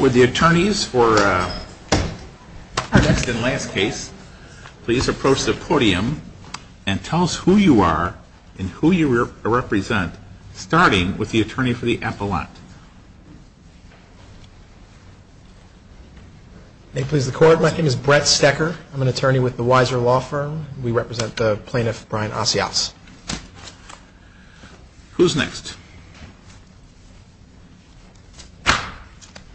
With the attorneys for our next and last case, please approach the podium and take questions. Tell us who you are and who you represent, starting with the attorney for the appellant. May it please the court, my name is Brett Stecker, I'm an attorney with the Weiser Law Firm. We represent the plaintiff, Brian Asias. Who's next?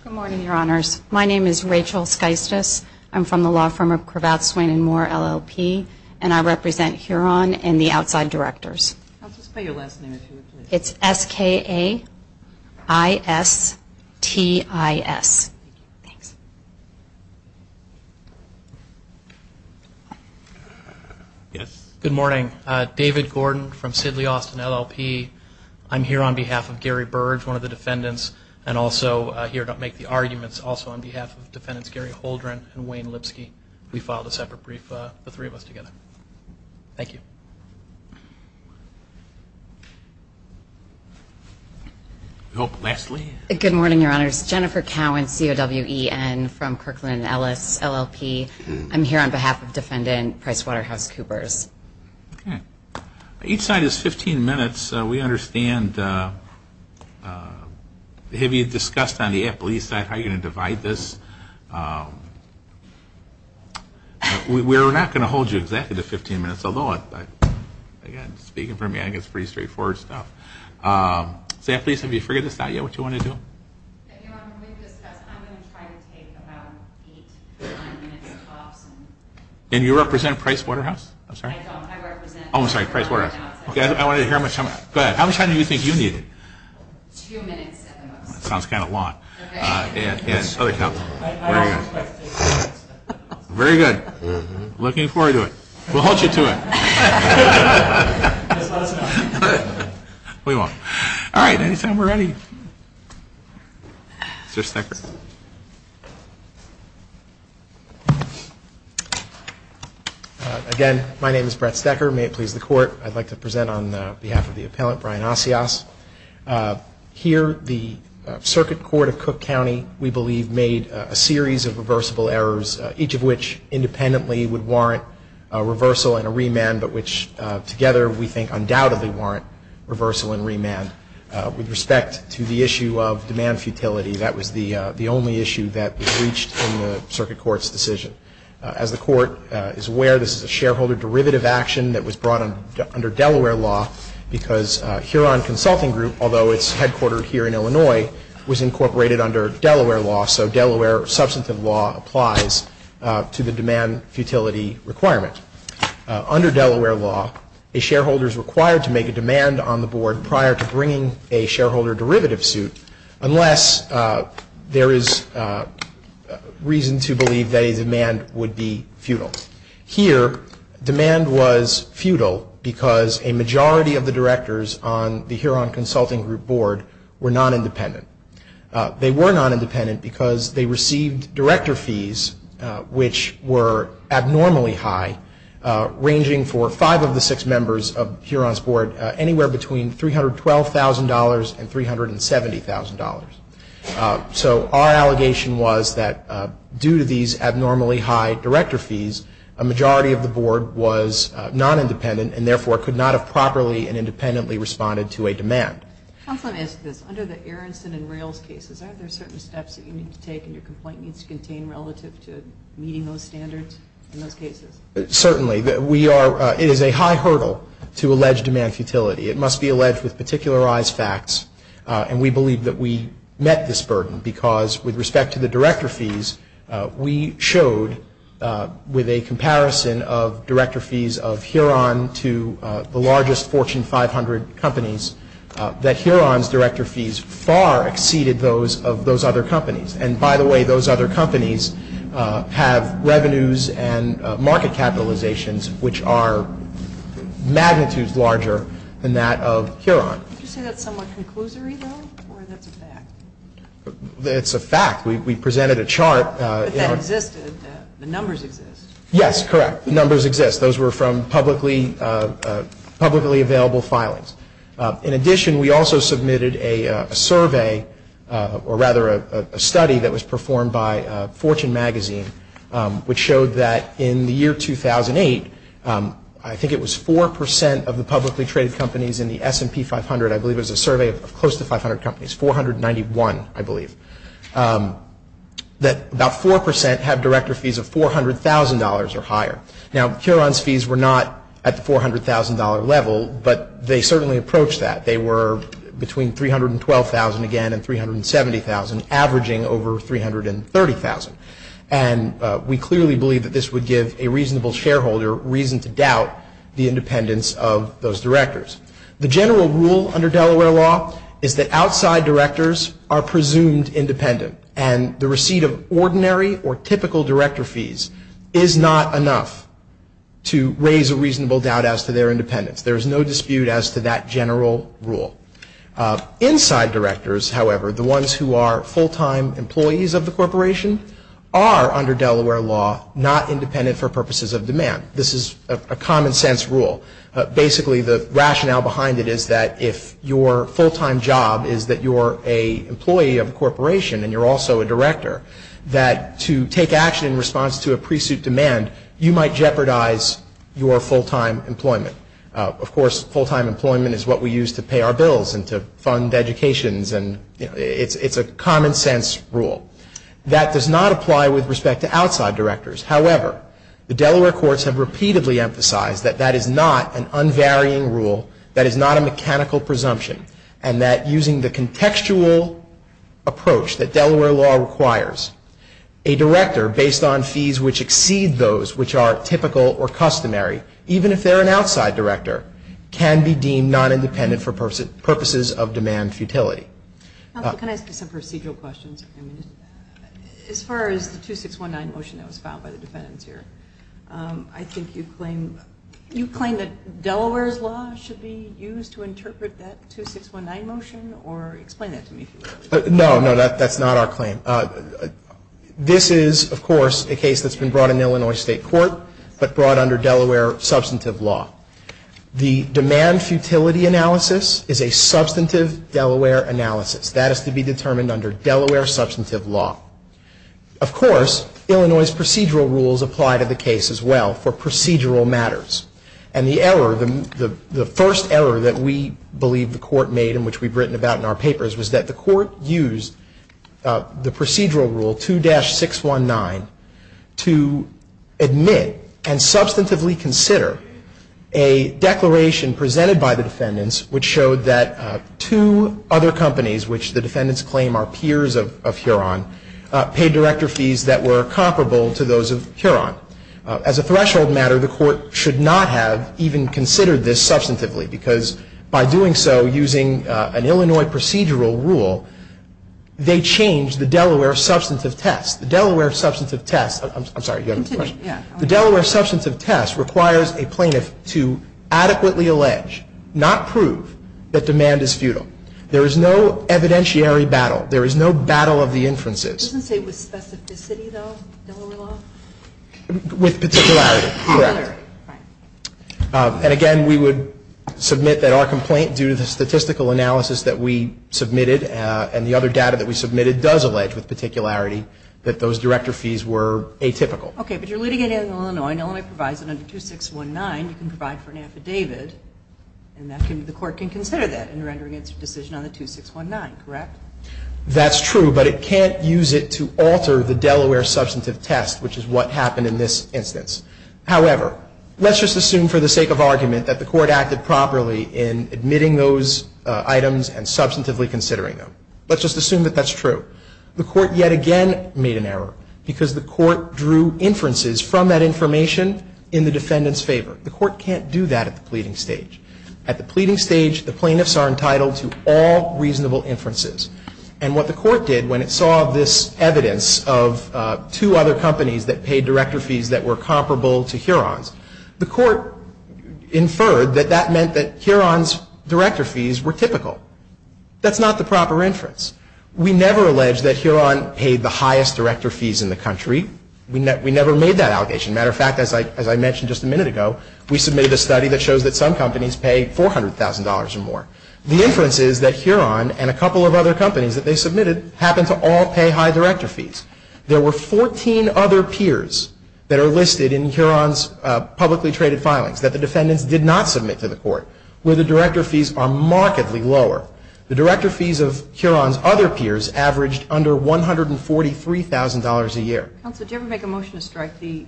Good morning, your honors. My name is Rachel Skistis, I'm from the law firm of Cravath, Swain and Moore, LLP, and I represent Huron and the outside directors. It's S-K-A-I-S-T-I-S. Good morning, David Gordon from Sidley Austin, LLP. I'm here on behalf of Gary Burge, one of the defendants, and also here to make the arguments also on behalf of defendants Gary Holdren and Wayne Lipsky. We filed a separate brief, the three of us together. Thank you. Lastly? Good morning, your honors. Jennifer Cowan, C-O-W-E-N, from Kirkland and Ellis, LLP. I'm here on behalf of defendant Price Waterhouse Coopers. Each side is 15 minutes, we understand, have you discussed on the appellee side how you are going to divide this? We are not going to hold you exactly to 15 minutes, although, speaking for me, it's pretty straightforward stuff. Have you figured this out yet, what you want to do? I'm going to try to take about eight to nine minutes tops. And you represent Price Waterhouse? I represent Price Waterhouse. I'm sorry, Price Waterhouse. I wanted to hear how much time, go ahead. How much time do you think you need? Two minutes at the most. That sounds kind of long. Okay. All right. And other counsel? Very good. Looking forward to it. We will hold you to it. Yes, let us know. We won't. All right, anytime we are ready. Mr. Stecker. Again, my name is Brett Stecker, may it please the court, I'd like to present on behalf of the appellant, Brian Asias. Here, the circuit court of Cook County, we believe, made a series of reversible errors, each of which independently would warrant a reversal and a remand, but which together we think undoubtedly warrant reversal and remand. With respect to the issue of demand futility, that was the only issue that was reached in the circuit court's decision. As the court is aware, this is a shareholder derivative action that was brought under Delaware law because Huron Consulting Group, although its headquartered here in Illinois, was incorporated under Delaware law, so Delaware substantive law applies to the demand futility requirement. Under Delaware law, a shareholder is required to make a demand on the board prior to bringing a shareholder derivative suit unless there is reason to believe that a demand would be futile. Here, demand was futile because a majority of the directors on the Huron Consulting Group board were non-independent. They were non-independent because they received director fees which were abnormally high, ranging for five of the six members of Huron's board anywhere between $312,000 and $370,000. So our allegation was that due to these abnormally high director fees, a majority of the board was non-independent and therefore could not have properly and independently responded to a demand. Counselor, I'm going to ask this. Under the Aronson and Rales cases, aren't there certain steps that you need to take and your complaint needs to contain relative to meeting those standards in those cases? Certainly. We are, it is a high hurdle to allege demand futility. It must be alleged with particularized facts. And we believe that we met this burden because with respect to the director fees, we showed with a comparison of director fees of Huron to the largest Fortune 500 companies that Huron's director fees far exceeded those of those other companies. And by the way, those other companies have revenues and market capitalizations which are magnitudes larger than that of Huron. Did you say that's somewhat conclusory though or that's a fact? It's a fact. We presented a chart. But that existed. The numbers exist. Yes, correct. The numbers exist. Those were from publicly available filings. In addition, we also submitted a survey or rather a study that was performed by Fortune Magazine which showed that in the year 2008, I think it was 4% of the publicly traded companies in the S&P 500, I believe it was a survey of close to 500 companies, 491 I believe, that about 4% have director fees of $400,000 or higher. Now Huron's fees were not at the $400,000 level, but they certainly approached that. They were between $312,000 again and $370,000, averaging over $330,000. And we clearly believe that this would give a reasonable shareholder reason to doubt the independence of those directors. The general rule under Delaware law is that outside directors are presumed independent. And the receipt of ordinary or typical director fees is not enough to raise a reasonable doubt as to their independence. There is no dispute as to that general rule. Inside directors, however, the ones who are full-time employees of the corporation are under Delaware law not independent for purposes of demand. This is a common sense rule. Basically the rationale behind it is that if your full-time job is that you're an employee of a corporation and you're also a director, that to take action in response to a pre-suit demand, you might jeopardize your full-time employment. Of course, full-time employment is what we use to pay our bills and to fund educations and it's a common sense rule. That does not apply with respect to outside directors, however, the Delaware courts have repeatedly emphasized that that is not an unvarying rule, that is not a mechanical presumption, and that using the contextual approach that Delaware law requires, a director based on conditions which exceed those which are typical or customary, even if they're an outside director, can be deemed non-independent for purposes of demand futility. Can I ask you some procedural questions? As far as the 2619 motion that was filed by the defendants here, I think you claim that Delaware's law should be used to interpret that 2619 motion, or explain that to me, please. No, no, that's not our claim. This is, of course, a case that's been brought in Illinois State Court, but brought under Delaware substantive law. The demand futility analysis is a substantive Delaware analysis. That is to be determined under Delaware substantive law. Of course, Illinois' procedural rules apply to the case as well for procedural matters. And the error, the first error that we believe the court made and which we've written about in our papers, was that the court used the procedural rule 2-619 to admit and substantively consider a declaration presented by the defendants which showed that two other companies, which the defendants claim are peers of Huron, paid director fees that were comparable to those of Huron. As a threshold matter, the court should not have even considered this substantively, because by doing so, using an Illinois procedural rule, they changed the Delaware substantive test. The Delaware substantive test, I'm sorry, you have a question? The Delaware substantive test requires a plaintiff to adequately allege, not prove, that demand is futile. There is no evidentiary battle. There is no battle of the inferences. It doesn't say with specificity, though, Delaware law? With particularity, correct. And again, we would submit that our complaint, due to the statistical analysis that we submitted and the other data that we submitted, does allege with particularity that those director fees were atypical. Okay, but you're leading it in Illinois, and Illinois provides it under 2-619. You can provide for an affidavit, and the court can consider that in rendering its decision on the 2-619, correct? That's true, but it can't use it to alter the Delaware substantive test, which is what happened in this instance. However, let's just assume for the sake of argument that the court acted properly in admitting those items and substantively considering them. Let's just assume that that's true. The court yet again made an error, because the court drew inferences from that information in the defendant's favor. The court can't do that at the pleading stage. At the pleading stage, the plaintiffs are entitled to all reasonable inferences. And what the court did when it saw this evidence of two other companies that paid director fees that were comparable to Huron's, the court inferred that that meant that Huron's director fees were typical. That's not the proper inference. We never allege that Huron paid the highest director fees in the country. We never made that allegation. As a matter of fact, as I mentioned just a minute ago, we submitted a study that shows that some companies pay $400,000 or more. The inference is that Huron and a couple of other companies that they submitted happened to all pay high director fees. There were 14 other peers that are listed in Huron's publicly traded filings that the defendants did not submit to the court, where the director fees are markedly lower. The director fees of Huron's other peers averaged under $143,000 a year. Counsel, did you ever make a motion to strike the,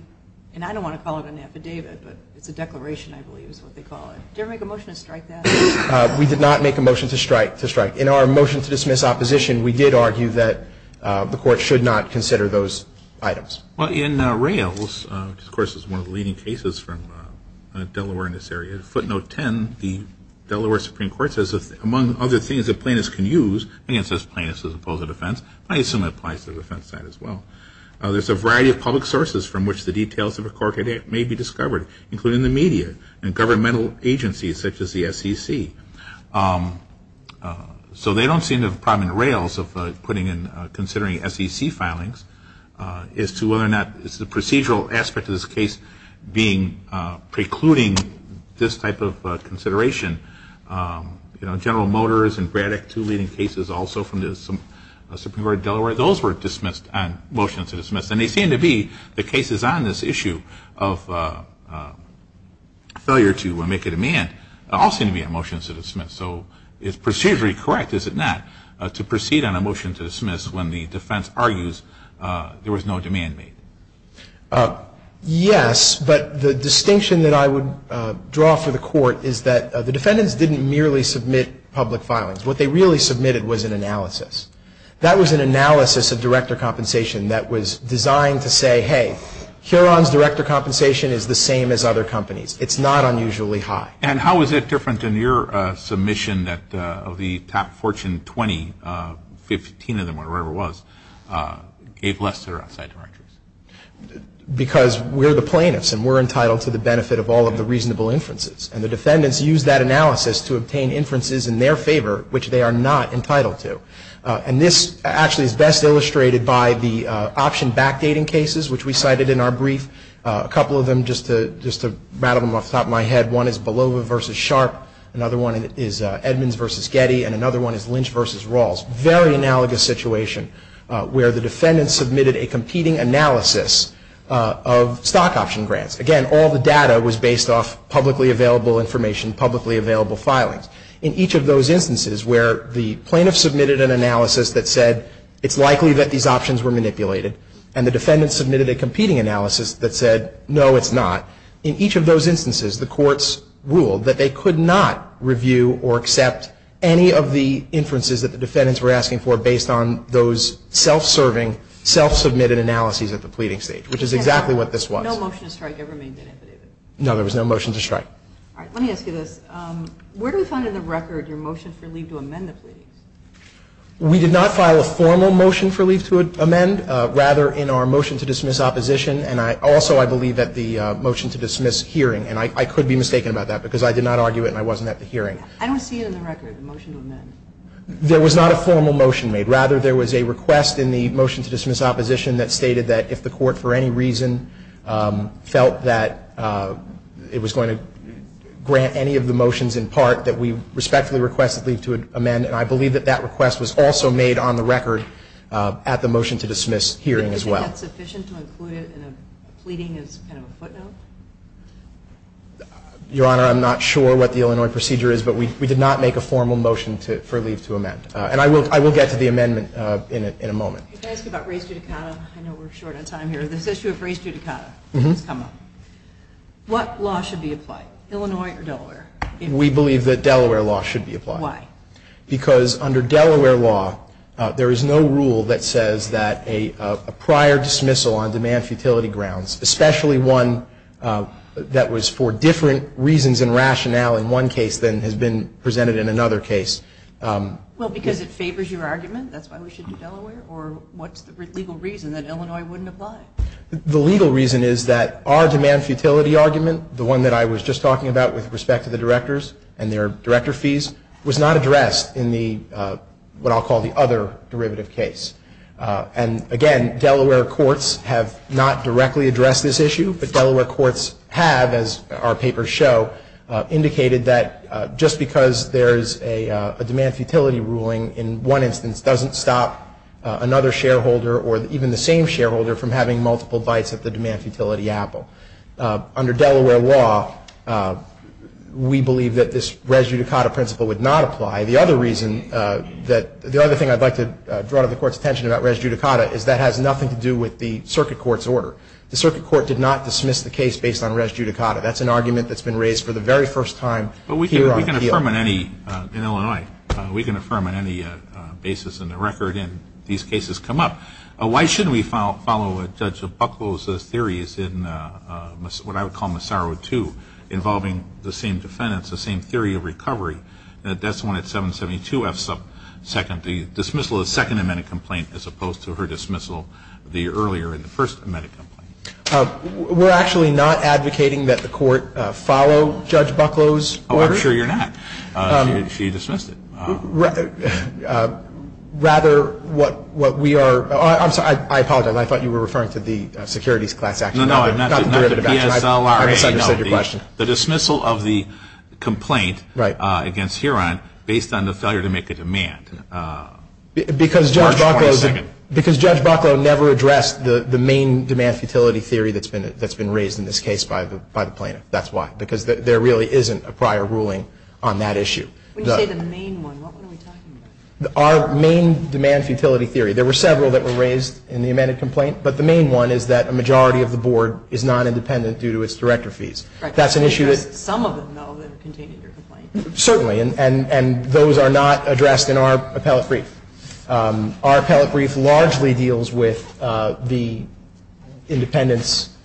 and I don't want to call it an affidavit, but it's a declaration, I believe is what they call it. Did you ever make a motion to strike that? We did not make a motion to strike. In our motion to dismiss opposition, we did argue that the court should not consider those items. Well, in Rails, which of course is one of the leading cases from Delaware in this area, footnote 10, the Delaware Supreme Court says that among other things that plaintiffs can use against those plaintiffs as opposed to defense, I assume it applies to the defense side as well. There's a variety of public sources from which the details of the court may be discovered, including the media and governmental agencies such as the SEC. So they don't seem to have a problem in Rails of putting in, considering SEC filings as to whether or not it's the procedural aspect of this case being, precluding this type of consideration. You know, General Motors and Braddock, two leading cases also from the Supreme Court of Delaware, those were dismissed, motions were dismissed, and they seem to be the cases on this issue of failure to make a demand, all seem to be motions that are dismissed. So is procedure correct, is it not, to proceed on a motion to dismiss when the defense argues there was no demand made? Yes, but the distinction that I would draw for the court is that the defendants didn't merely submit public filings. What they really submitted was an analysis. That was an analysis of director compensation that was designed to say, hey, Huron's director compensation is the same as other companies. It's not unusually high. And how is it different in your submission that of the top fortune 20, 15 of them or whoever it was, gave less to their outside directors? Because we're the plaintiffs and we're entitled to the benefit of all of the reasonable inferences. And the defendants used that analysis to obtain inferences in their favor, which they are not entitled to. And this actually is best illustrated by the option backdating cases, which we cited in our brief. A couple of them, just to rattle them off the top of my head. One is Belova v. Sharpe, another one is Edmonds v. Getty, and another one is Lynch v. Rawls. Very analogous situation where the defendants submitted a competing analysis of stock option grants. Again, all the data was based off publicly available information, publicly available filings. In each of those instances where the plaintiff submitted an analysis that said, it's likely that these options were manipulated, and the defendant submitted a competing analysis that said, no, it's not, in each of those instances, the courts ruled that they could not review or accept any of the inferences that the defendants were asking for based on those self-serving, self-submitted analyses at the pleading stage, which is exactly what this was. No motion to strike ever made it. No. There was no motion to strike. All right. Let me ask you this. Where do we find in the record your motion for leave to amend the pleadings? We did not file a formal motion for leave to amend. Rather in our motion to dismiss opposition, and also I believe that the motion to dismiss hearing, and I could be mistaken about that because I did not argue it and I wasn't at the hearing. I don't see it in the record, the motion to amend. There was not a formal motion made. Rather, there was a request in the motion to dismiss opposition that stated that if the court for any reason felt that it was going to grant any of the motions in part that we respectfully requested leave to amend, and I believe that that request was also made on the record at the motion to dismiss hearing as well. Do you think that's sufficient to include it in a pleading as kind of a footnote? Your Honor, I'm not sure what the Illinois procedure is, but we did not make a formal motion for leave to amend. And I will get to the amendment in a moment. If I ask about race judicata, I know we're short on time here, this issue of race judicata has come up. What law should be applied, Illinois or Delaware? We believe that Delaware law should be applied. Why? Because under Delaware law, there is no rule that says that a prior dismissal on demand futility grounds, especially one that was for different reasons and rationale in one case than has been presented in another case. Well, because it favors your argument, that's why we should do Delaware? Or what's the legal reason that Illinois wouldn't apply? The legal reason is that our demand futility argument, the one that I was just talking about with respect to the directors and their director fees, was not addressed in what I'll call the other derivative case. And again, Delaware courts have not directly addressed this issue, but Delaware courts have, as our papers show, indicated that just because there is a demand futility ruling in one instance doesn't stop another shareholder or even the same shareholder from having multiple bites at the demand futility apple. Under Delaware law, we believe that this race judicata principle would not apply. The other reason that, the other thing I'd like to draw to the court's attention about race judicata is that has nothing to do with the circuit court's order. The circuit court did not dismiss the case based on race judicata. That's an argument that's been raised for the very first time here on the field. But we can affirm on any, in Illinois, we can affirm on any basis in the record in these cases come up. Why shouldn't we follow a judge of Buckles' theories in what I would call Massaro 2, involving the same defendants, the same theory of recovery? That's the one at 772 F2nd, the dismissal of the second amendment complaint as opposed to her dismissal the earlier in the first amendment complaint. We're actually not advocating that the court follow Judge Buckles' order. Oh, I'm sure you're not. She dismissed it. Rather, what we are, I'm sorry, I apologize, I thought you were referring to the Securities Class Act. No, no, not the PSLRA. I misunderstood your question. The dismissal of the complaint against Huron based on the failure to make a demand. March 22nd. Because Judge Buckle never addressed the main demand futility theory that's been raised in this case by the plaintiff. That's why. Because there really isn't a prior ruling on that issue. When you say the main one, what are we talking about? Our main demand futility theory. There were several that were raised in the amended complaint, but the main one is that a majority of the board is not independent due to its director fees. That's an issue. Some of them, though, that are contained in your complaint. Certainly. And those are not addressed in our appellate brief. Our appellate brief largely deals with the independence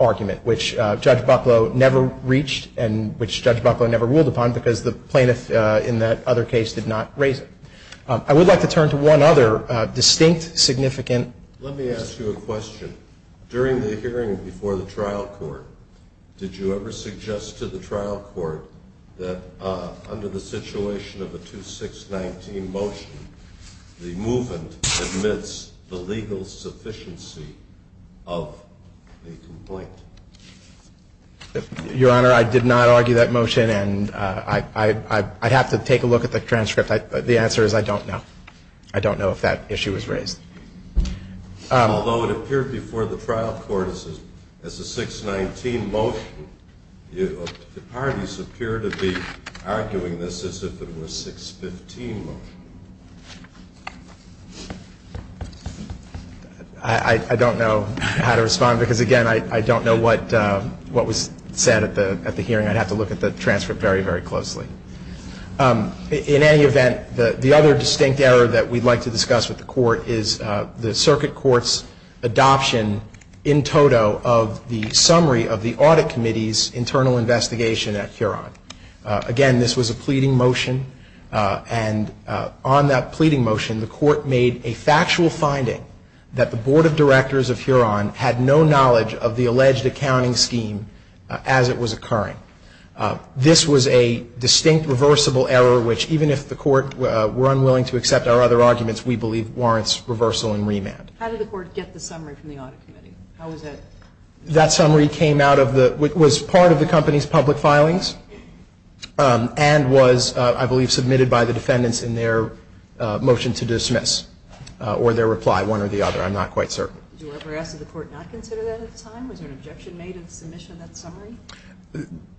argument, which Judge Buckle never reached and which Judge Buckle never ruled upon because the plaintiff in that other case did not raise it. I would like to turn to one other distinct, significant. Let me ask you a question. During the hearing before the trial court, did you ever suggest to the trial court that under the situation of a 2-6-19 motion, the movement admits the legal sufficiency of a complaint? Your Honor, I did not argue that motion, and I'd have to take a look at the transcript. The answer is I don't know. I don't know if that issue was raised. Although it appeared before the trial court as a 6-19 motion, the parties appear to be arguing this as if it were a 6-15 motion. I don't know how to respond because, again, I don't know what was said at the hearing. I'd have to look at the transcript very, very closely. In any event, the other distinct error that we'd like to discuss with the court is the circuit court's adoption in toto of the summary of the audit committee's internal investigation at Huron. Again, this was a pleading motion, and on that pleading motion, the court made a factual finding that the Board of Directors of Huron had no knowledge of the alleged accounting scheme as it was occurring. This was a distinct reversible error, which even if the court were unwilling to accept our other arguments, we believe warrants reversal and remand. How did the court get the summary from the audit committee? How was that? That summary came out of the – was part of the company's public filings and was, I believe, submitted by the defendants in their motion to dismiss or their reply, one or the other. I'm not quite certain. Did you ever ask did the court not consider that at the time? Was there an objection made in submission of that summary?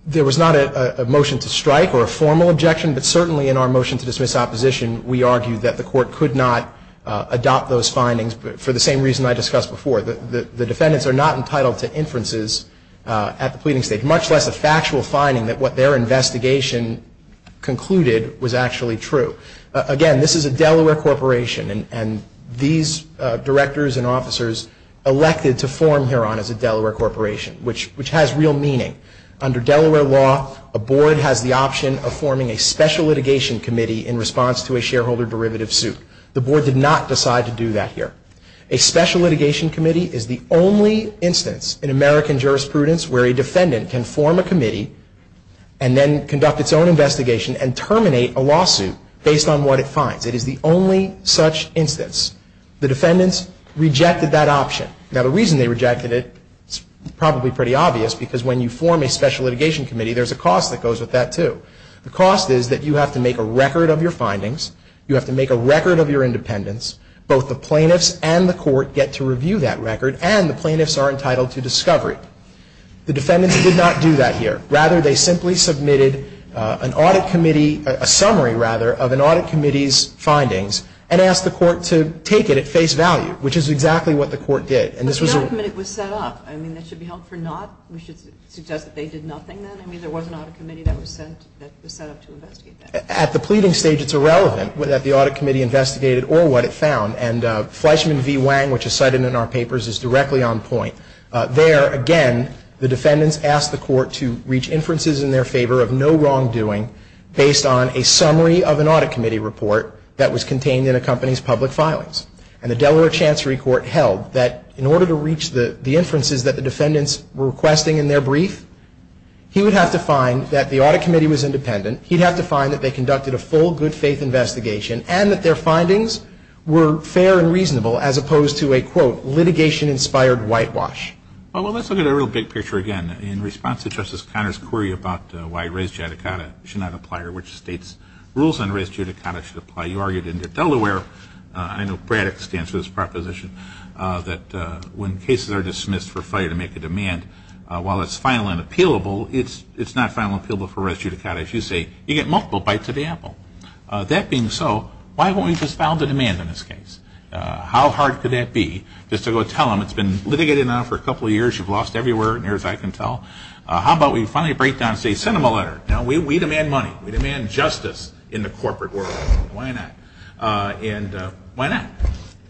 There was not a motion to strike or a formal objection, but certainly in our motion to dismiss opposition, we argued that the court could not adopt those findings for the same reason I discussed before. The defendants are not entitled to inferences at the pleading stage, much less a factual finding that what their investigation concluded was actually true. Again, this is a Delaware corporation, and these directors and officers elected to form Huron as a Delaware corporation, which has real meaning. Under Delaware law, a board has the option of forming a special litigation committee in response to a shareholder derivative suit. The board did not decide to do that here. A special litigation committee is the only instance in American jurisprudence where a defendant can form a committee and then conduct its own investigation and terminate a lawsuit based on what it finds. It is the only such instance. The defendants rejected that option. Now, the reason they rejected it is probably pretty obvious, because when you form a special litigation committee, there's a cost that goes with that, too. The cost is that you have to make a record of your findings. You have to make a record of your independence. Both the plaintiffs and the court get to review that record, and the plaintiffs are entitled to discovery. The defendants did not do that here. Rather, they simply submitted an audit committee, a summary, rather, of an audit committee's findings and asked the court to take it at face value, which is exactly what the court did. But the audit committee was set up. I mean, that should be held for naught. We should suggest that they did nothing, then? I mean, there was an audit committee that was set up to investigate that. At the pleading stage, it's irrelevant whether the audit committee investigated or what it found. And Fleischman v. Wang, which is cited in our papers, is directly on point. There, again, the defendants asked the court to reach inferences in their favor of no wrongdoing based on a summary of an audit committee report that was contained in a company's public filings. And the Delaware Chancery Court held that in order to reach the inferences that the defendants were requesting in their brief, he would have to find that the audit committee was independent. He'd have to find that they conducted a full good-faith investigation and that their findings were fair and reasonable as opposed to a, quote, litigation-inspired whitewash. Well, let's look at a real big picture again. In response to Justice Conner's query about why res judicata should not apply or which state's rules on res judicata should apply, you argued in the Delaware. I know Braddock stands for this proposition, that when cases are dismissed for failure to make a demand, while it's final and appealable, it's not final and appealable for res judicata. As you say, you get multiple bites of the apple. That being so, why don't we just file the demand in this case? How hard could that be just to go tell them it's been litigated now for a couple of years, you've lost everywhere, near as I can tell. How about we finally break down and say, send them a letter. Now, we demand money. We demand justice in the corporate world. Why not?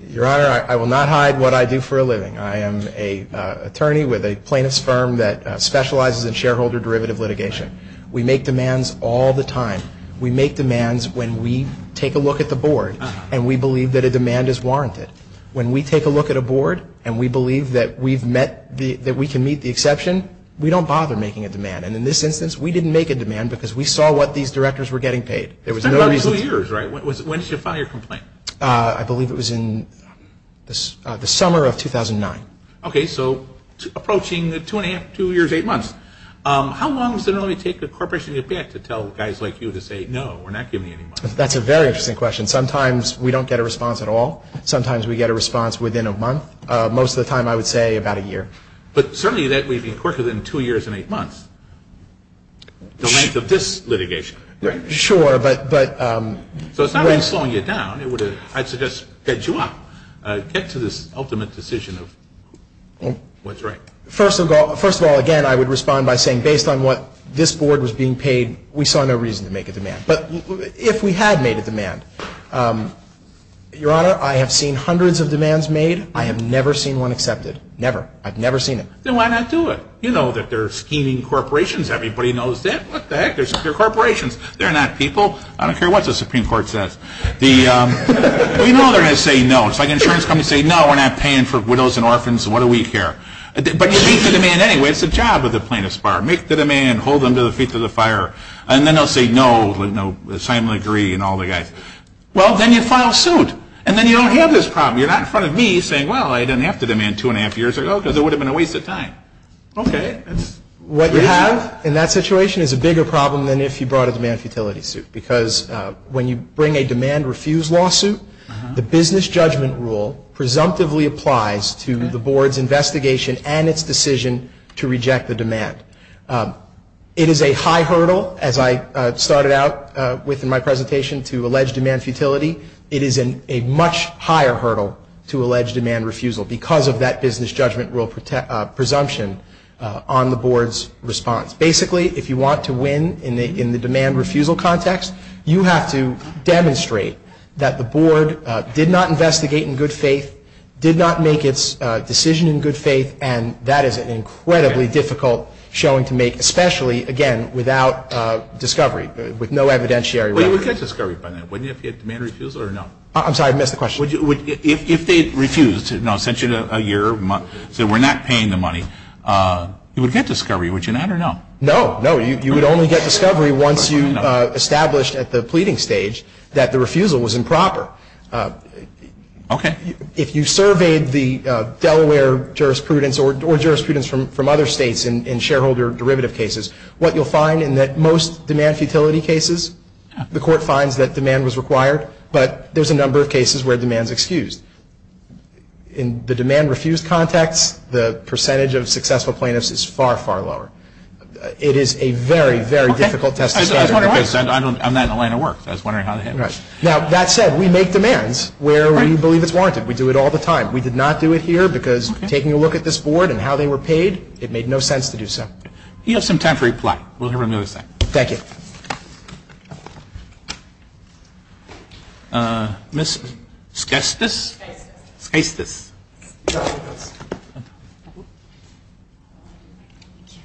Your Honor, I will not hide what I do for a living. I am an attorney with a plaintiff's firm that specializes in shareholder derivative litigation. We make demands all the time. We make demands when we take a look at the board and we believe that a demand is warranted. When we take a look at a board and we believe that we've met, that we can meet the exception, we don't bother making a demand. And in this instance, we didn't make a demand because we saw what these directors were getting paid. There was no reason to. When did you file your complaint? I believe it was in the summer of 2009. Okay, so approaching two years, eight months. How long does it normally take a corporation to get back to tell guys like you to say, no, we're not giving you any money? That's a very interesting question. Sometimes we don't get a response at all. Sometimes we get a response within a month. Most of the time I would say about a year. But certainly that would be quicker than two years and eight months, the length of this litigation. Sure. So it's not really slowing you down. I'd suggest get you up. Get to this ultimate decision of what's right. First of all, again, I would respond by saying based on what this board was being paid, we saw no reason to make a demand. But if we had made a demand, Your Honor, I have seen hundreds of demands made. I have never seen one accepted. Never. I've never seen it. Then why not do it? You know that they're scheming corporations. Everybody knows that. What the heck? They're corporations. They're not people. I don't care what the Supreme Court says. We know they're going to say no. It's like insurance companies say, no, we're not paying for widows and orphans. What do we care? But you make the demand anyway. It's the job of the plaintiff's bar. Make the demand. Hold them to the feet of the fire. And then they'll say no. They'll sign the degree and all the guys. Well, then you file suit. And then you don't have this problem. You're not in front of me saying, well, I didn't have to demand two and a half years ago because it would have been a waste of time. Okay. What you have in that situation is a bigger problem than if you brought a demand futility suit because when you bring a demand refuse lawsuit, the business judgment rule presumptively applies to the board's investigation and its decision to reject the demand. It is a high hurdle, as I started out with in my presentation, to allege demand futility. It is a much higher hurdle to allege demand refusal because of that business judgment rule presumption on the board's response. Basically, if you want to win in the demand refusal context, you have to demonstrate that the board did not investigate in good faith, did not make its decision in good faith, and that is an incredibly difficult showing to make, especially, again, without discovery, with no evidentiary record. We could discover it by then, wouldn't we, if you had demand refusal or no? I'm sorry. I missed the question. If they refused, you know, sent you a year or a month, said we're not paying the money, you would get discovery, wouldn't you? I don't know. No, no. You would only get discovery once you established at the pleading stage that the refusal was improper. Okay. If you surveyed the Delaware jurisprudence or jurisprudence from other states in shareholder derivative cases, what you'll find in that most demand futility cases, the court finds that demand was required, but there's a number of cases where demand is excused. In the demand refused context, the percentage of successful plaintiffs is far, far lower. It is a very, very difficult test to stand on. I'm not in the line of work, so I was wondering how that happens. Now, that said, we make demands where we believe it's warranted. We do it all the time. We did not do it here because taking a look at this board and how they were paid, it made no sense to do so. You have some time to reply. We'll hear from you in a second. Thank you. Ms. Skestis? Skestis. Skestis. Thank you.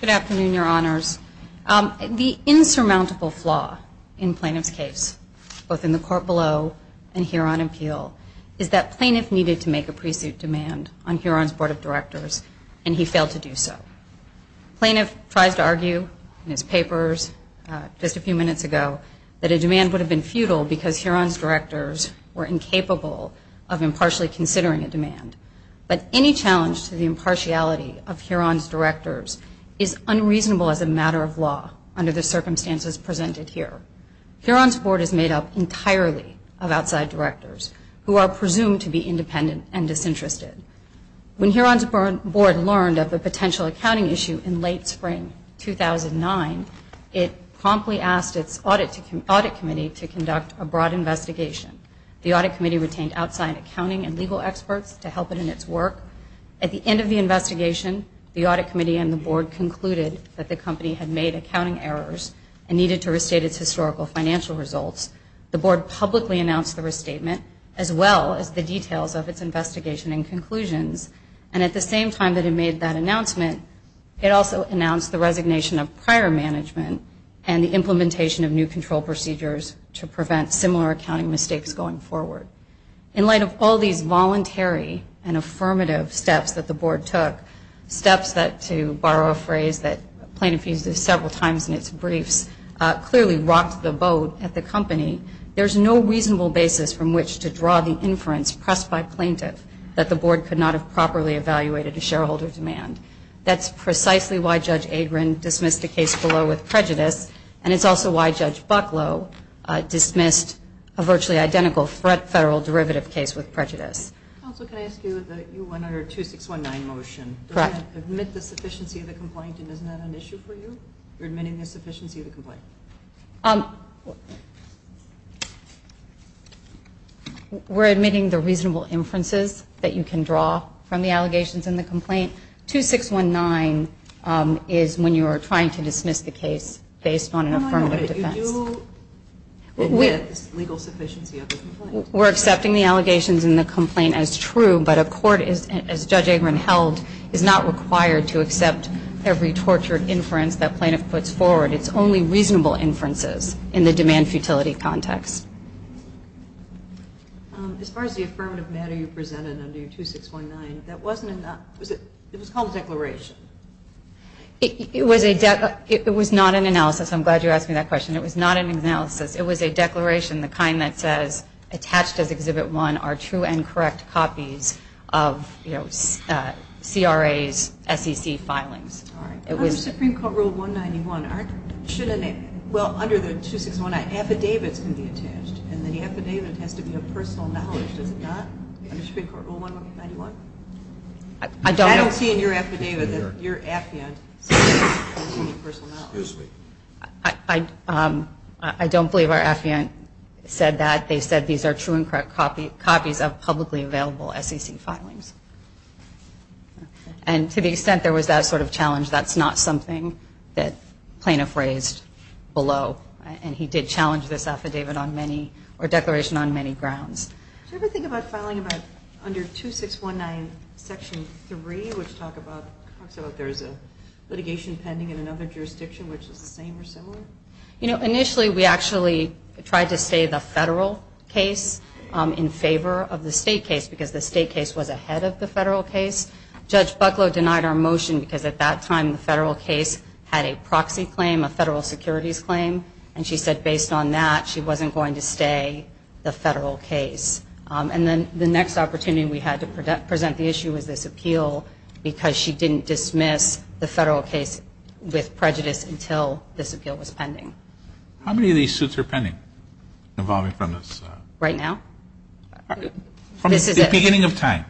Good afternoon, Your Honors. The insurmountable flaw in plaintiff's case, both in the court below and here on appeal, is that plaintiff needed to make a pre-suit demand on Huron's board of directors, and he failed to do so. Plaintiff tries to argue in his papers just a few minutes ago that a demand would have been futile because Huron's directors were incapable of impartially considering a demand. But any challenge to the impartiality of Huron's directors is unreasonable as a matter of law under the circumstances presented here. Huron's board is made up entirely of outside directors who are presumed to be independent and disinterested. When Huron's board learned of a potential accounting issue in late spring 2009, it promptly asked its audit committee to conduct a broad investigation. The audit committee retained outside accounting and legal experts to help it in its work. At the end of the investigation, the audit committee and the board concluded that the company had made accounting errors and needed to restate its historical financial results. The board publicly announced the restatement, as well as the details of its investigation and conclusions. And at the same time that it made that announcement, it also announced the resignation of prior management and the implementation of new control procedures to prevent similar accounting mistakes going forward. In light of all these voluntary and affirmative steps that the board took, steps that, to borrow a phrase that plaintiff used several times in its briefs, clearly rocked the boat at the company, there's no reasonable basis from which to draw the inference pressed by plaintiff that the board could not have properly evaluated a shareholder demand. That's precisely why Judge Agrin dismissed the case below with prejudice, and it's also why Judge Bucklow dismissed a virtually identical federal derivative case with prejudice. Counsel, can I ask you the U-102619 motion? Correct. Does that admit the sufficiency of the complaint, and isn't that an issue for you? You're admitting the sufficiency of the complaint. We're admitting the reasonable inferences that you can draw from the allegations in the complaint. 2619 is when you are trying to dismiss the case based on an affirmative defense. Why not? You do admit the legal sufficiency of the complaint. We're accepting the allegations in the complaint as true, but a court, as Judge Agrin held, is not required to accept every tortured inference that plaintiff puts forward. It's only reasonable inferences in the demand futility context. As far as the affirmative matter you presented under U-2619, it was called a declaration. It was not an analysis. I'm glad you asked me that question. It was not an analysis. It was a declaration, the kind that says, attached as Exhibit 1 are true and correct copies of CRA's SEC filings. Under Supreme Court Rule 191, under the 2619, affidavits can be attached, and the affidavit has to be a personal knowledge. Does it not? Under Supreme Court Rule 191? I don't see in your affidavit that your affiant has a personal knowledge. Excuse me. I don't believe our affiant said that. They said these are true and correct copies of publicly available SEC filings. And to the extent there was that sort of challenge, that's not something that plaintiff raised below, and he did challenge this affidavit on many or declaration on many grounds. Did you ever think about filing under 2619 Section 3, which talks about there's a litigation pending in another jurisdiction, which is the same or similar? Initially, we actually tried to stay the federal case in favor of the state case because the state case was ahead of the federal case. Judge Bucklow denied our motion because, at that time, the federal case had a proxy claim, a federal securities claim, and she said based on that she wasn't going to stay the federal case. And then the next opportunity we had to present the issue was this appeal because she didn't dismiss the federal case with prejudice until this appeal was pending. How many of these suits are pending involving defendants? Right now? This is at the beginning of time.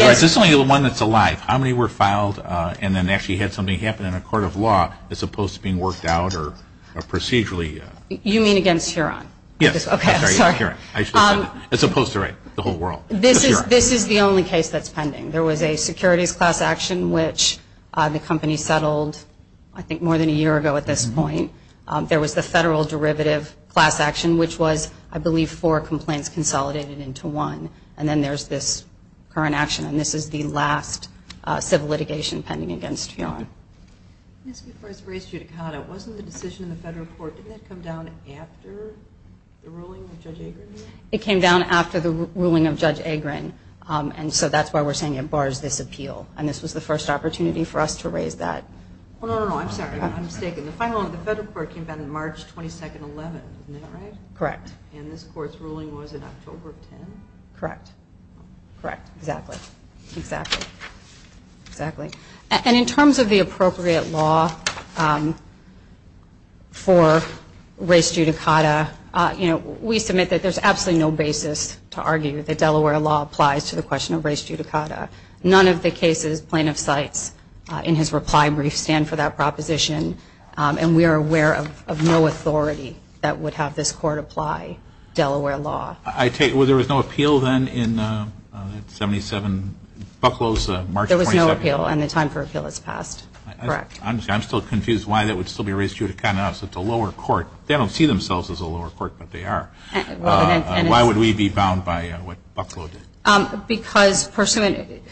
This is only the one that's alive. How many were filed and then actually had something happen in a court of law as opposed to being worked out or procedurally? You mean against Huron? Yes. Okay. Sorry. As opposed to the whole world. This is the only case that's pending. There was a securities class action which the company settled, I think, more than a year ago at this point. There was the federal derivative class action, which was, I believe, four complaints consolidated into one. And then there's this current action, and this is the last civil litigation pending against Huron. Let me ask you, first, race judicata. It wasn't the decision in the federal court. Didn't it come down after the ruling of Judge Agrin? It came down after the ruling of Judge Agrin, and so that's why we're saying it bars this appeal, and this was the first opportunity for us to raise that. Well, no, no, no. I'm sorry. I'm mistaken. The final of the federal court came down on March 22, 2011. Isn't that right? Correct. And this court's ruling was on October 10? Correct. Correct. Exactly. Exactly. Exactly. And in terms of the appropriate law for race judicata, we submit that there's absolutely no basis to argue that Delaware law applies to the question of race judicata. None of the cases plaintiff cites in his reply brief stand for that proposition, and we are aware of no authority that would have this court apply Delaware law. Well, there was no appeal then in the 77, Bucklow's March 27th. There was no appeal, and the time for appeal has passed. Correct. I'm still confused why that would still be race judicata. It's a lower court. They don't see themselves as a lower court, but they are. Why would we be bound by what Bucklow did? Because the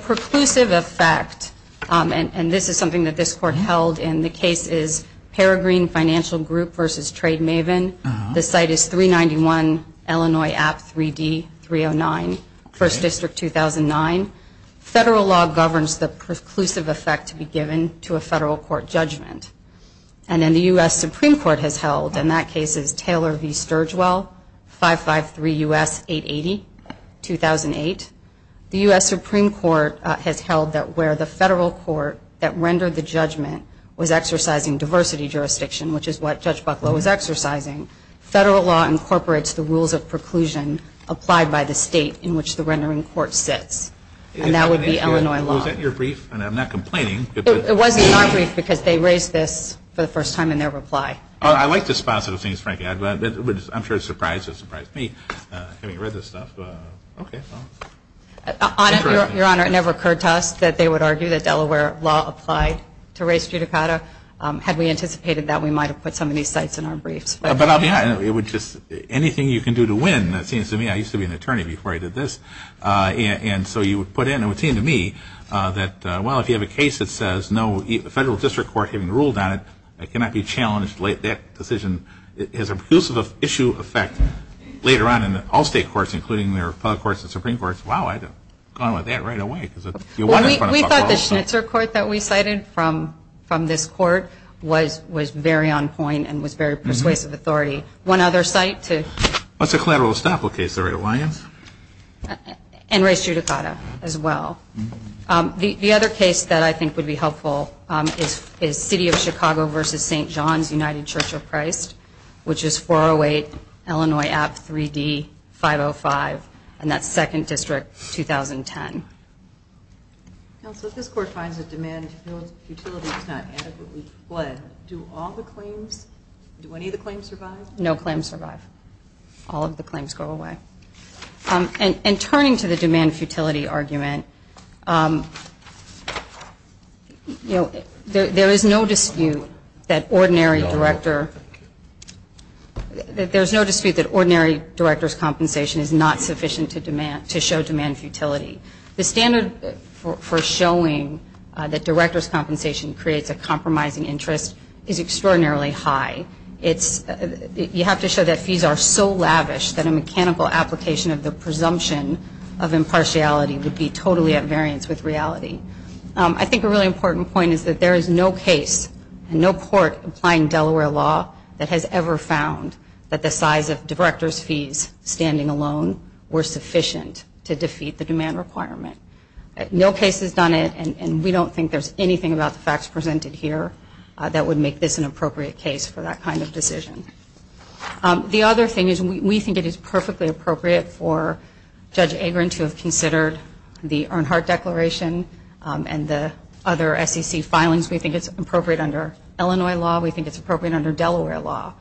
preclusive effect, and this is something that this court held, and the case is Peregrine Financial Group v. Trade Maven. The site is 391 Illinois App 3D, 309, 1st District, 2009. Federal law governs the preclusive effect to be given to a federal court judgment. And then the U.S. Supreme Court has held, and that case is Taylor v. Sturgewell, 553 U.S. 880, 2008. The U.S. Supreme Court has held that where the federal court that rendered the judgment was exercising diversity jurisdiction, which is what Judge Bucklow was exercising, federal law incorporates the rules of preclusion applied by the state in which the rendering court sits, and that would be Illinois law. Was that your brief? And I'm not complaining. It wasn't in our brief because they raised this for the first time in their reply. I like dispositive things, Frankie. I'm sure it's a surprise to surprise me, having read this stuff. Okay. Your Honor, it never occurred to us that they would argue that Delaware law applied to race judicata. Had we anticipated that, we might have put some of these sites in our briefs. But I'll be honest, anything you can do to win. It seems to me, I used to be an attorney before I did this, and so you would put in, and it would seem to me that, well, if you have a case that says no, the federal district court having ruled on it, it cannot be challenged, that decision has a producive issue effect later on in all state courts, including their appellate courts and supreme courts. Wow, I'd have gone with that right away. We thought the Schnitzer court that we cited from this court was very on point and was very persuasive authority. One other site to. What's the collateral estoppel case? Is there an alliance? And race judicata as well. The other case that I think would be helpful is City of Chicago versus St. John's United Church of Christ, which is 408 Illinois App 3D 505, and that's 2nd District, 2010. Counsel, if this court finds that demand and utility is not adequately fled, do all the claims, do any of the claims survive? No claims survive. All of the claims go away. And turning to the demand-futility argument, there is no dispute that ordinary director's compensation is not sufficient to show demand-futility. The standard for showing that director's compensation creates a compromising interest is extraordinarily high. You have to show that fees are so lavish that a mechanical application of the presumption of impartiality would be totally at variance with reality. I think a really important point is that there is no case and no court applying Delaware law that has ever found that the size of director's fees standing alone were sufficient to defeat the demand requirement. No case has done it, and we don't think there's anything about the facts presented here that would make this an appropriate case for that kind of decision. The other thing is we think it is perfectly appropriate for Judge Agrin to have considered the Earnhardt Declaration and the other SEC filings. We think it's appropriate under Illinois law. We think it's appropriate under Delaware law.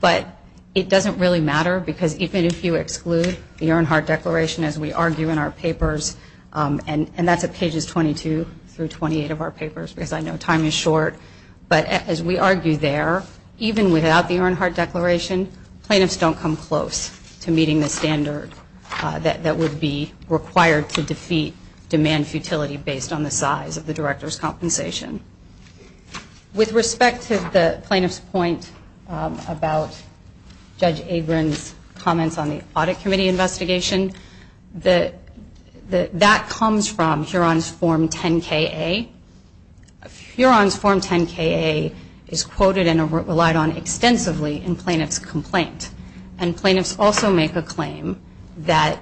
But it doesn't really matter because even if you exclude the Earnhardt Declaration, as we argue in our papers, and that's at pages 22 through 28 of our papers, because I know time is short, but as we argue there, even without the Earnhardt Declaration, plaintiffs don't come close to meeting the standard that would be required to defeat demand futility based on the size of the director's compensation. With respect to the plaintiff's point about Judge Agrin's comments on the audit committee investigation, that comes from Huron's Form 10-K-A. Huron's Form 10-K-A is quoted and relied on extensively in plaintiff's complaint. And plaintiffs also make a claim that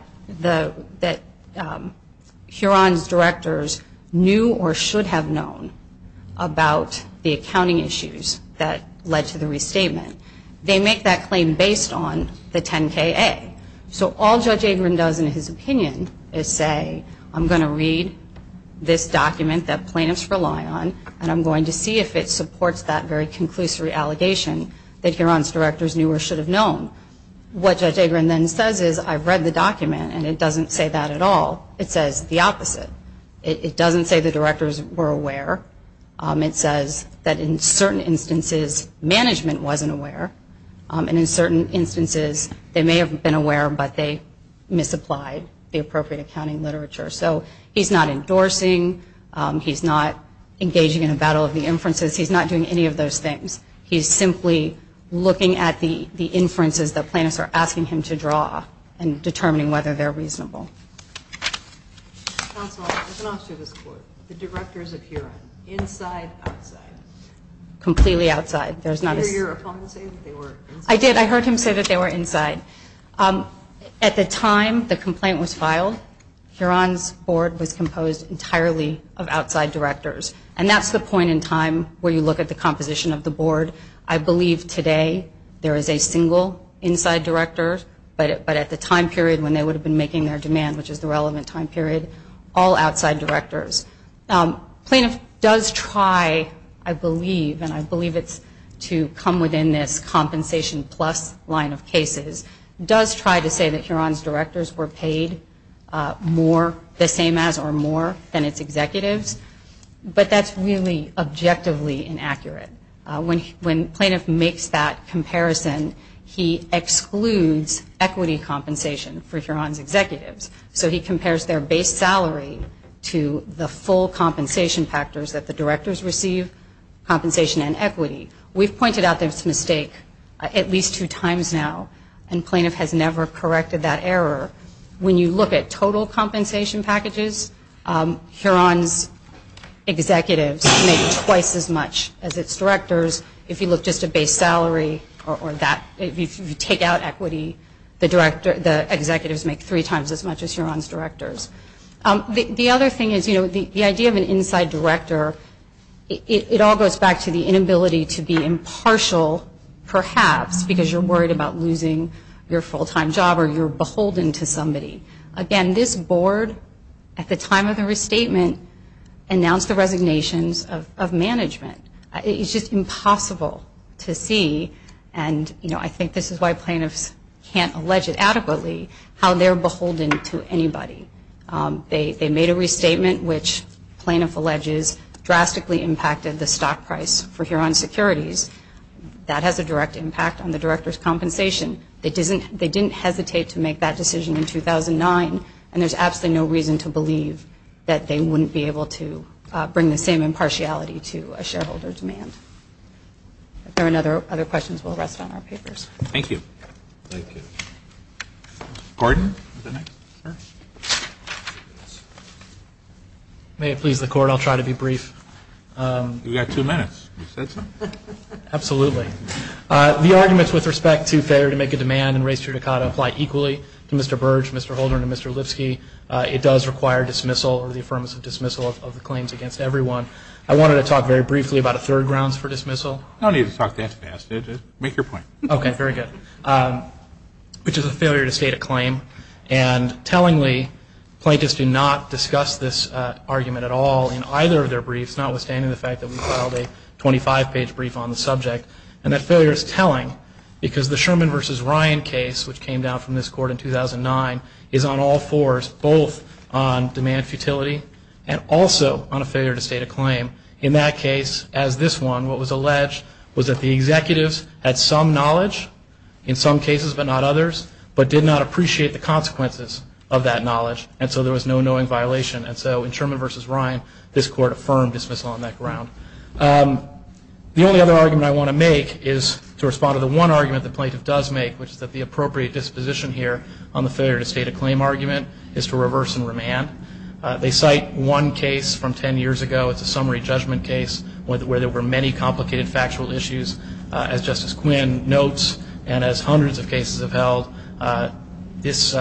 Huron's directors knew or should have known about the accounting issues that led to the restatement. They make that claim based on the 10-K-A. So all Judge Agrin does in his opinion is say, I'm going to read this document that plaintiffs rely on, and I'm going to see if it supports that very conclusory allegation that Huron's directors knew or should have known. What Judge Agrin then says is, I've read the document, and it doesn't say that at all. It says the opposite. It doesn't say the directors were aware. It says that in certain instances management wasn't aware, and in certain instances they may have been aware, but they misapplied the appropriate accounting literature. So he's not endorsing. He's not engaging in a battle of the inferences. He's not doing any of those things. He's simply looking at the inferences that plaintiffs are asking him to draw and determining whether they're reasonable. Counsel, I can offer you this quote. The directors of Huron, inside, outside. Completely outside. Did you hear your opponent say that they were inside? I did. I heard him say that they were inside. At the time the complaint was filed, Huron's board was composed entirely of outside directors, and that's the point in time where you look at the composition of the board. I believe today there is a single inside director, but at the time period when they would have been making their demand, which is the relevant time period, all outside directors. Plaintiff does try, I believe, and I believe it's to come within this compensation plus line of cases, does try to say that Huron's directors were paid more, the same as or more, than its executives, but that's really objectively inaccurate. When plaintiff makes that comparison, he excludes equity compensation for Huron's executives. So he compares their base salary to the full compensation factors that the directors receive, compensation and equity. We've pointed out this mistake at least two times now, and plaintiff has never corrected that error. When you look at total compensation packages, Huron's executives make twice as much as its directors. If you look just at base salary or that, if you take out equity, the executives make three times as much as Huron's directors. The other thing is, you know, the idea of an inside director, it all goes back to the inability to be impartial, perhaps, because you're worried about losing your full-time job or you're beholden to somebody. Again, this board, at the time of the restatement, announced the resignations of management. It's just impossible to see, and, you know, I think this is why plaintiffs can't allege it adequately, how they're beholden to anybody. They made a restatement which, plaintiff alleges, drastically impacted the stock price for Huron Securities. That has a direct impact on the director's compensation. They didn't hesitate to make that decision in 2009, and there's absolutely no reason to believe that they wouldn't be able to bring the same impartiality to a shareholder demand. If there are no other questions, we'll rest on our papers. Thank you. Thank you. Gordon, is that next, sir? May it please the Court, I'll try to be brief. You've got two minutes. You said something. Absolutely. The arguments with respect to failure to make a demand in res judicata apply equally to Mr. Burge, Mr. Holdren, and Mr. Lipsky. It does require dismissal or the affirmative dismissal of the claims against everyone. I wanted to talk very briefly about a third grounds for dismissal. I don't need to talk that fast. Make your point. Okay, very good, which is a failure to state a claim. And tellingly, plaintiffs do not discuss this argument at all in either of their briefs, notwithstanding the fact that we filed a 25-page brief on the subject. And that failure is telling because the Sherman v. Ryan case, which came down from this Court in 2009, is on all fours, both on demand futility and also on a failure to state a claim. In that case, as this one, what was alleged was that the executives had some knowledge in some cases but not others, but did not appreciate the consequences of that knowledge, and so there was no knowing violation. And so in Sherman v. Ryan, this Court affirmed dismissal on that ground. The only other argument I want to make is to respond to the one argument the plaintiff does make, which is that the appropriate disposition here on the failure to state a claim argument is to reverse and remand. They cite one case from 10 years ago. It's a summary judgment case where there were many complicated factual issues. As Justice Quinn notes, and as hundreds of cases have held, this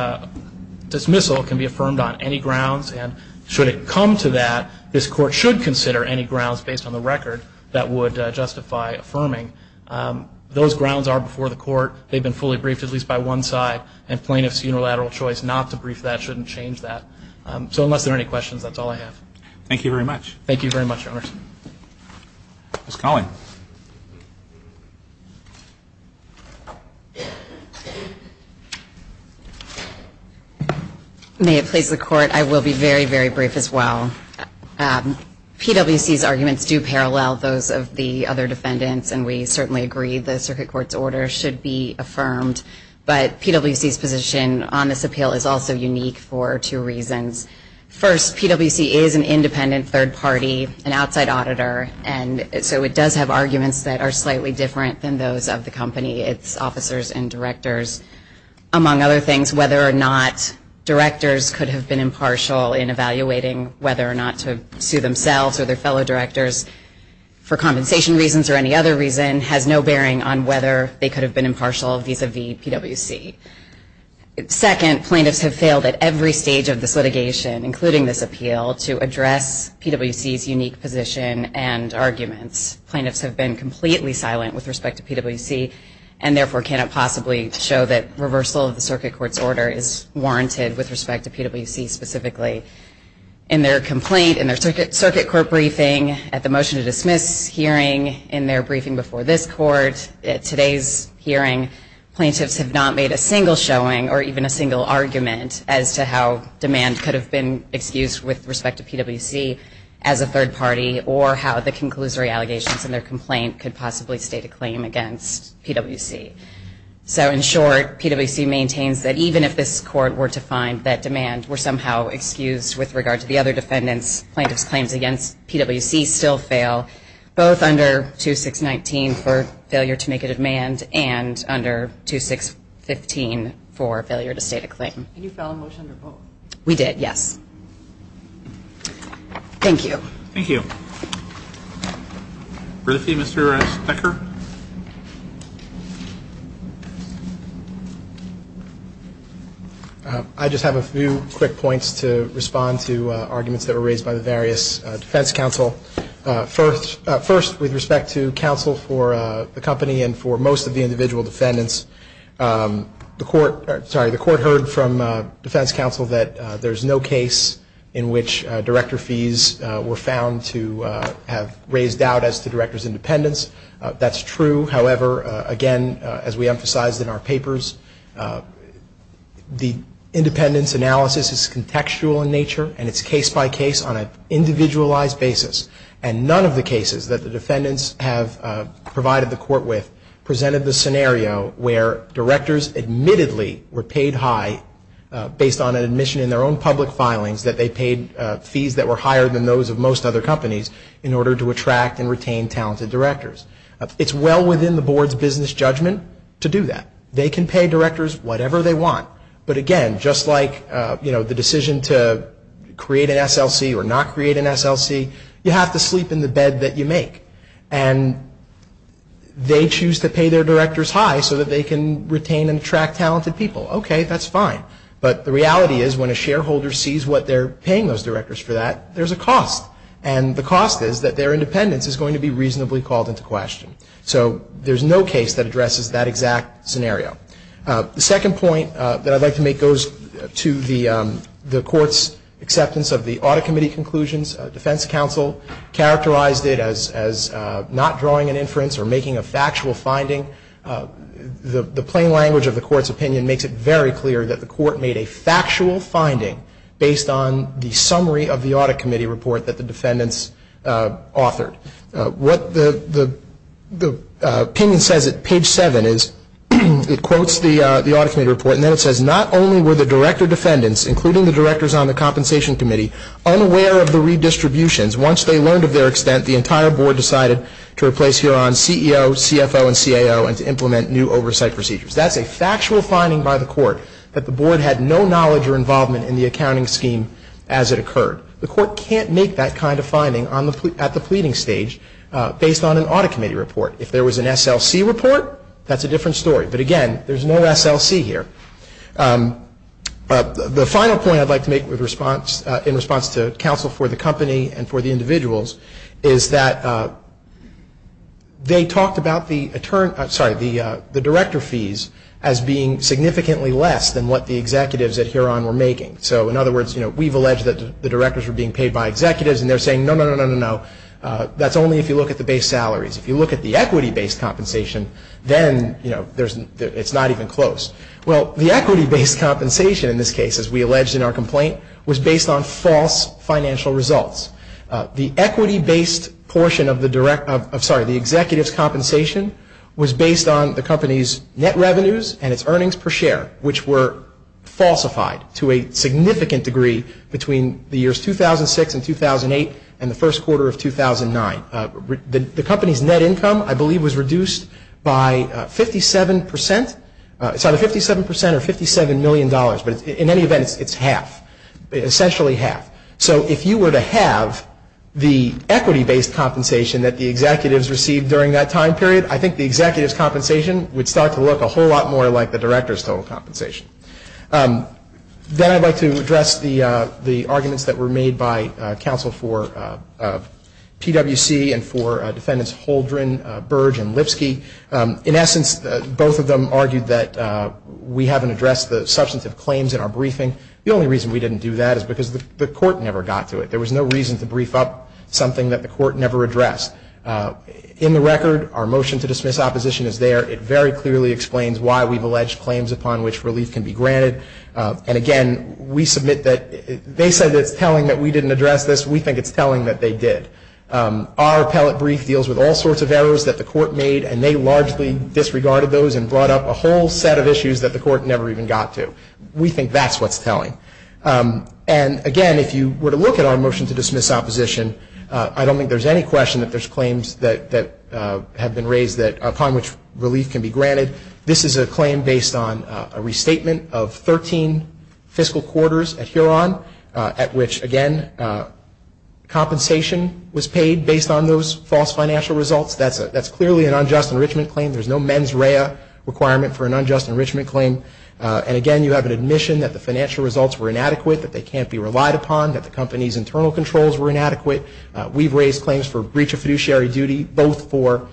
dismissal can be affirmed on any grounds, and should it come to that, this Court should consider any grounds based on the record that would justify affirming. Those grounds are before the Court. They've been fully briefed at least by one side, and plaintiffs' unilateral choice not to brief that shouldn't change that. So unless there are any questions, that's all I have. Thank you very much. Thank you very much, Your Honors. Ms. Cohen. May it please the Court, I will be very, very brief as well. PwC's arguments do parallel those of the other defendants, and we certainly agree the Circuit Court's order should be affirmed. But PwC's position on this appeal is also unique for two reasons. First, PwC is an independent third party, an outside auditor, and so it does have arguments that are slightly different than those of the company, its officers and directors. Among other things, whether or not directors could have been impartial in evaluating whether or not to sue themselves or their fellow directors for compensation reasons or any other reason has no bearing on whether they could have been impartial vis-a-vis PwC. Second, plaintiffs have failed at every stage of this litigation, including this appeal, to address PwC's unique position and arguments. Plaintiffs have been completely silent with respect to PwC and therefore cannot possibly show that reversal of the Circuit Court's order is warranted with respect to PwC specifically. In their complaint, in their Circuit Court briefing, at the motion to dismiss hearing, in their briefing before this Court, at today's hearing, plaintiffs have not made a single showing or even a single argument as to how demand could have been excused with respect to PwC as a third party or how the conclusory allegations in their complaint could possibly state a claim against PwC. So in short, PwC maintains that even if this Court were to find that demand were somehow excused with regard to the other defendants, plaintiffs' claims against PwC still fail, both under 2619 for failure to make a demand and under 2615 for failure to state a claim. And you fell in motion to vote? We did, yes. Thank you. Thank you. For the fee, Mr. Becker? I just have a few quick points to respond to arguments that were raised by the various defense counsel. First, with respect to counsel for the company and for most of the individual defendants, the Court heard from defense counsel that there's no case in which director fees were found to have raised doubt as to directors' independence. That's true. However, again, as we emphasized in our papers, the independence analysis is contextual in nature and it's case-by-case on an individualized basis. And none of the cases that the defendants have provided the Court with presented the scenario where directors admittedly were paid high based on an admission in their own public filings that they paid fees that were higher than those of most other companies in order to attract and retain talented directors. It's well within the Board's business judgment to do that. They can pay directors whatever they want. But again, just like the decision to create an SLC or not create an SLC, you have to sleep in the bed that you make. And they choose to pay their directors high so that they can retain and attract talented people. Okay, that's fine. But the reality is when a shareholder sees what they're paying those directors for that, there's a cost. And the cost is that their independence is going to be reasonably called into question. So there's no case that addresses that exact scenario. The second point that I'd like to make goes to the Court's acceptance of the Audit Committee conclusions. Defense counsel characterized it as not drawing an inference or making a factual finding. The plain language of the Court's opinion makes it very clear that the Court made a factual finding based on the summary of the Audit Committee report that the defendants authored. What the opinion says at page 7 is it quotes the Audit Committee report, and then it says, not only were the director defendants, including the directors on the Compensation Committee, unaware of the redistributions. Once they learned of their extent, the entire Board decided to replace Huron's CEO, CFO, and CAO and to implement new oversight procedures. That's a factual finding by the Court that the Board had no knowledge or involvement in the accounting scheme as it occurred. The Court can't make that kind of finding at the pleading stage based on an Audit Committee report. If there was an SLC report, that's a different story. But again, there's no SLC here. The final point I'd like to make in response to counsel for the company and for the individuals is that they talked about the director fees as being significantly less than what the executives at Huron were making. So in other words, we've alleged that the directors were being paid by executives, and they're saying, no, no, no, no, no, no. That's only if you look at the base salaries. If you look at the equity-based compensation, then it's not even close. Well, the equity-based compensation in this case, as we alleged in our complaint, was based on false financial results. The equity-based portion of the executives' compensation was based on the company's net revenues and its earnings per share, which were falsified to a significant degree between the years 2006 and 2008 and the first quarter of 2009. The company's net income, I believe, was reduced by 57 percent. It's either 57 percent or $57 million, but in any event, it's half, essentially half. So if you were to have the equity-based compensation that the executives received during that time period, I think the executives' compensation would start to look a whole lot more like the directors' total compensation. Then I'd like to address the arguments that were made by counsel for PwC and for Defendants Holdren, Burge, and Lipsky. In essence, both of them argued that we haven't addressed the substantive claims in our briefing. The only reason we didn't do that is because the court never got to it. There was no reason to brief up something that the court never addressed. In the record, our motion to dismiss opposition is there. It very clearly explains why we've alleged claims upon which relief can be granted. And again, we submit that they said it's telling that we didn't address this. We think it's telling that they did. Our appellate brief deals with all sorts of errors that the court made, and they largely disregarded those and brought up a whole set of issues that the court never even got to. We think that's what's telling. And again, if you were to look at our motion to dismiss opposition, I don't think there's any question that there's claims that have been raised upon which relief can be granted. This is a claim based on a restatement of 13 fiscal quarters at Huron, at which, again, compensation was paid based on those false financial results. That's clearly an unjust enrichment claim. There's no mens rea requirement for an unjust enrichment claim. And again, you have an admission that the financial results were inadequate, that they can't be relied upon, that the company's internal controls were inadequate. We've raised claims for breach of fiduciary duty, both for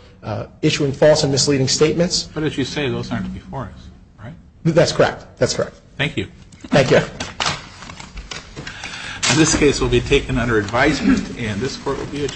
issuing false and misleading statements. But as you say, those aren't before us, right? That's correct. That's correct. Thank you. Thank you. This case will be taken under advisement, and this court will be adjourned.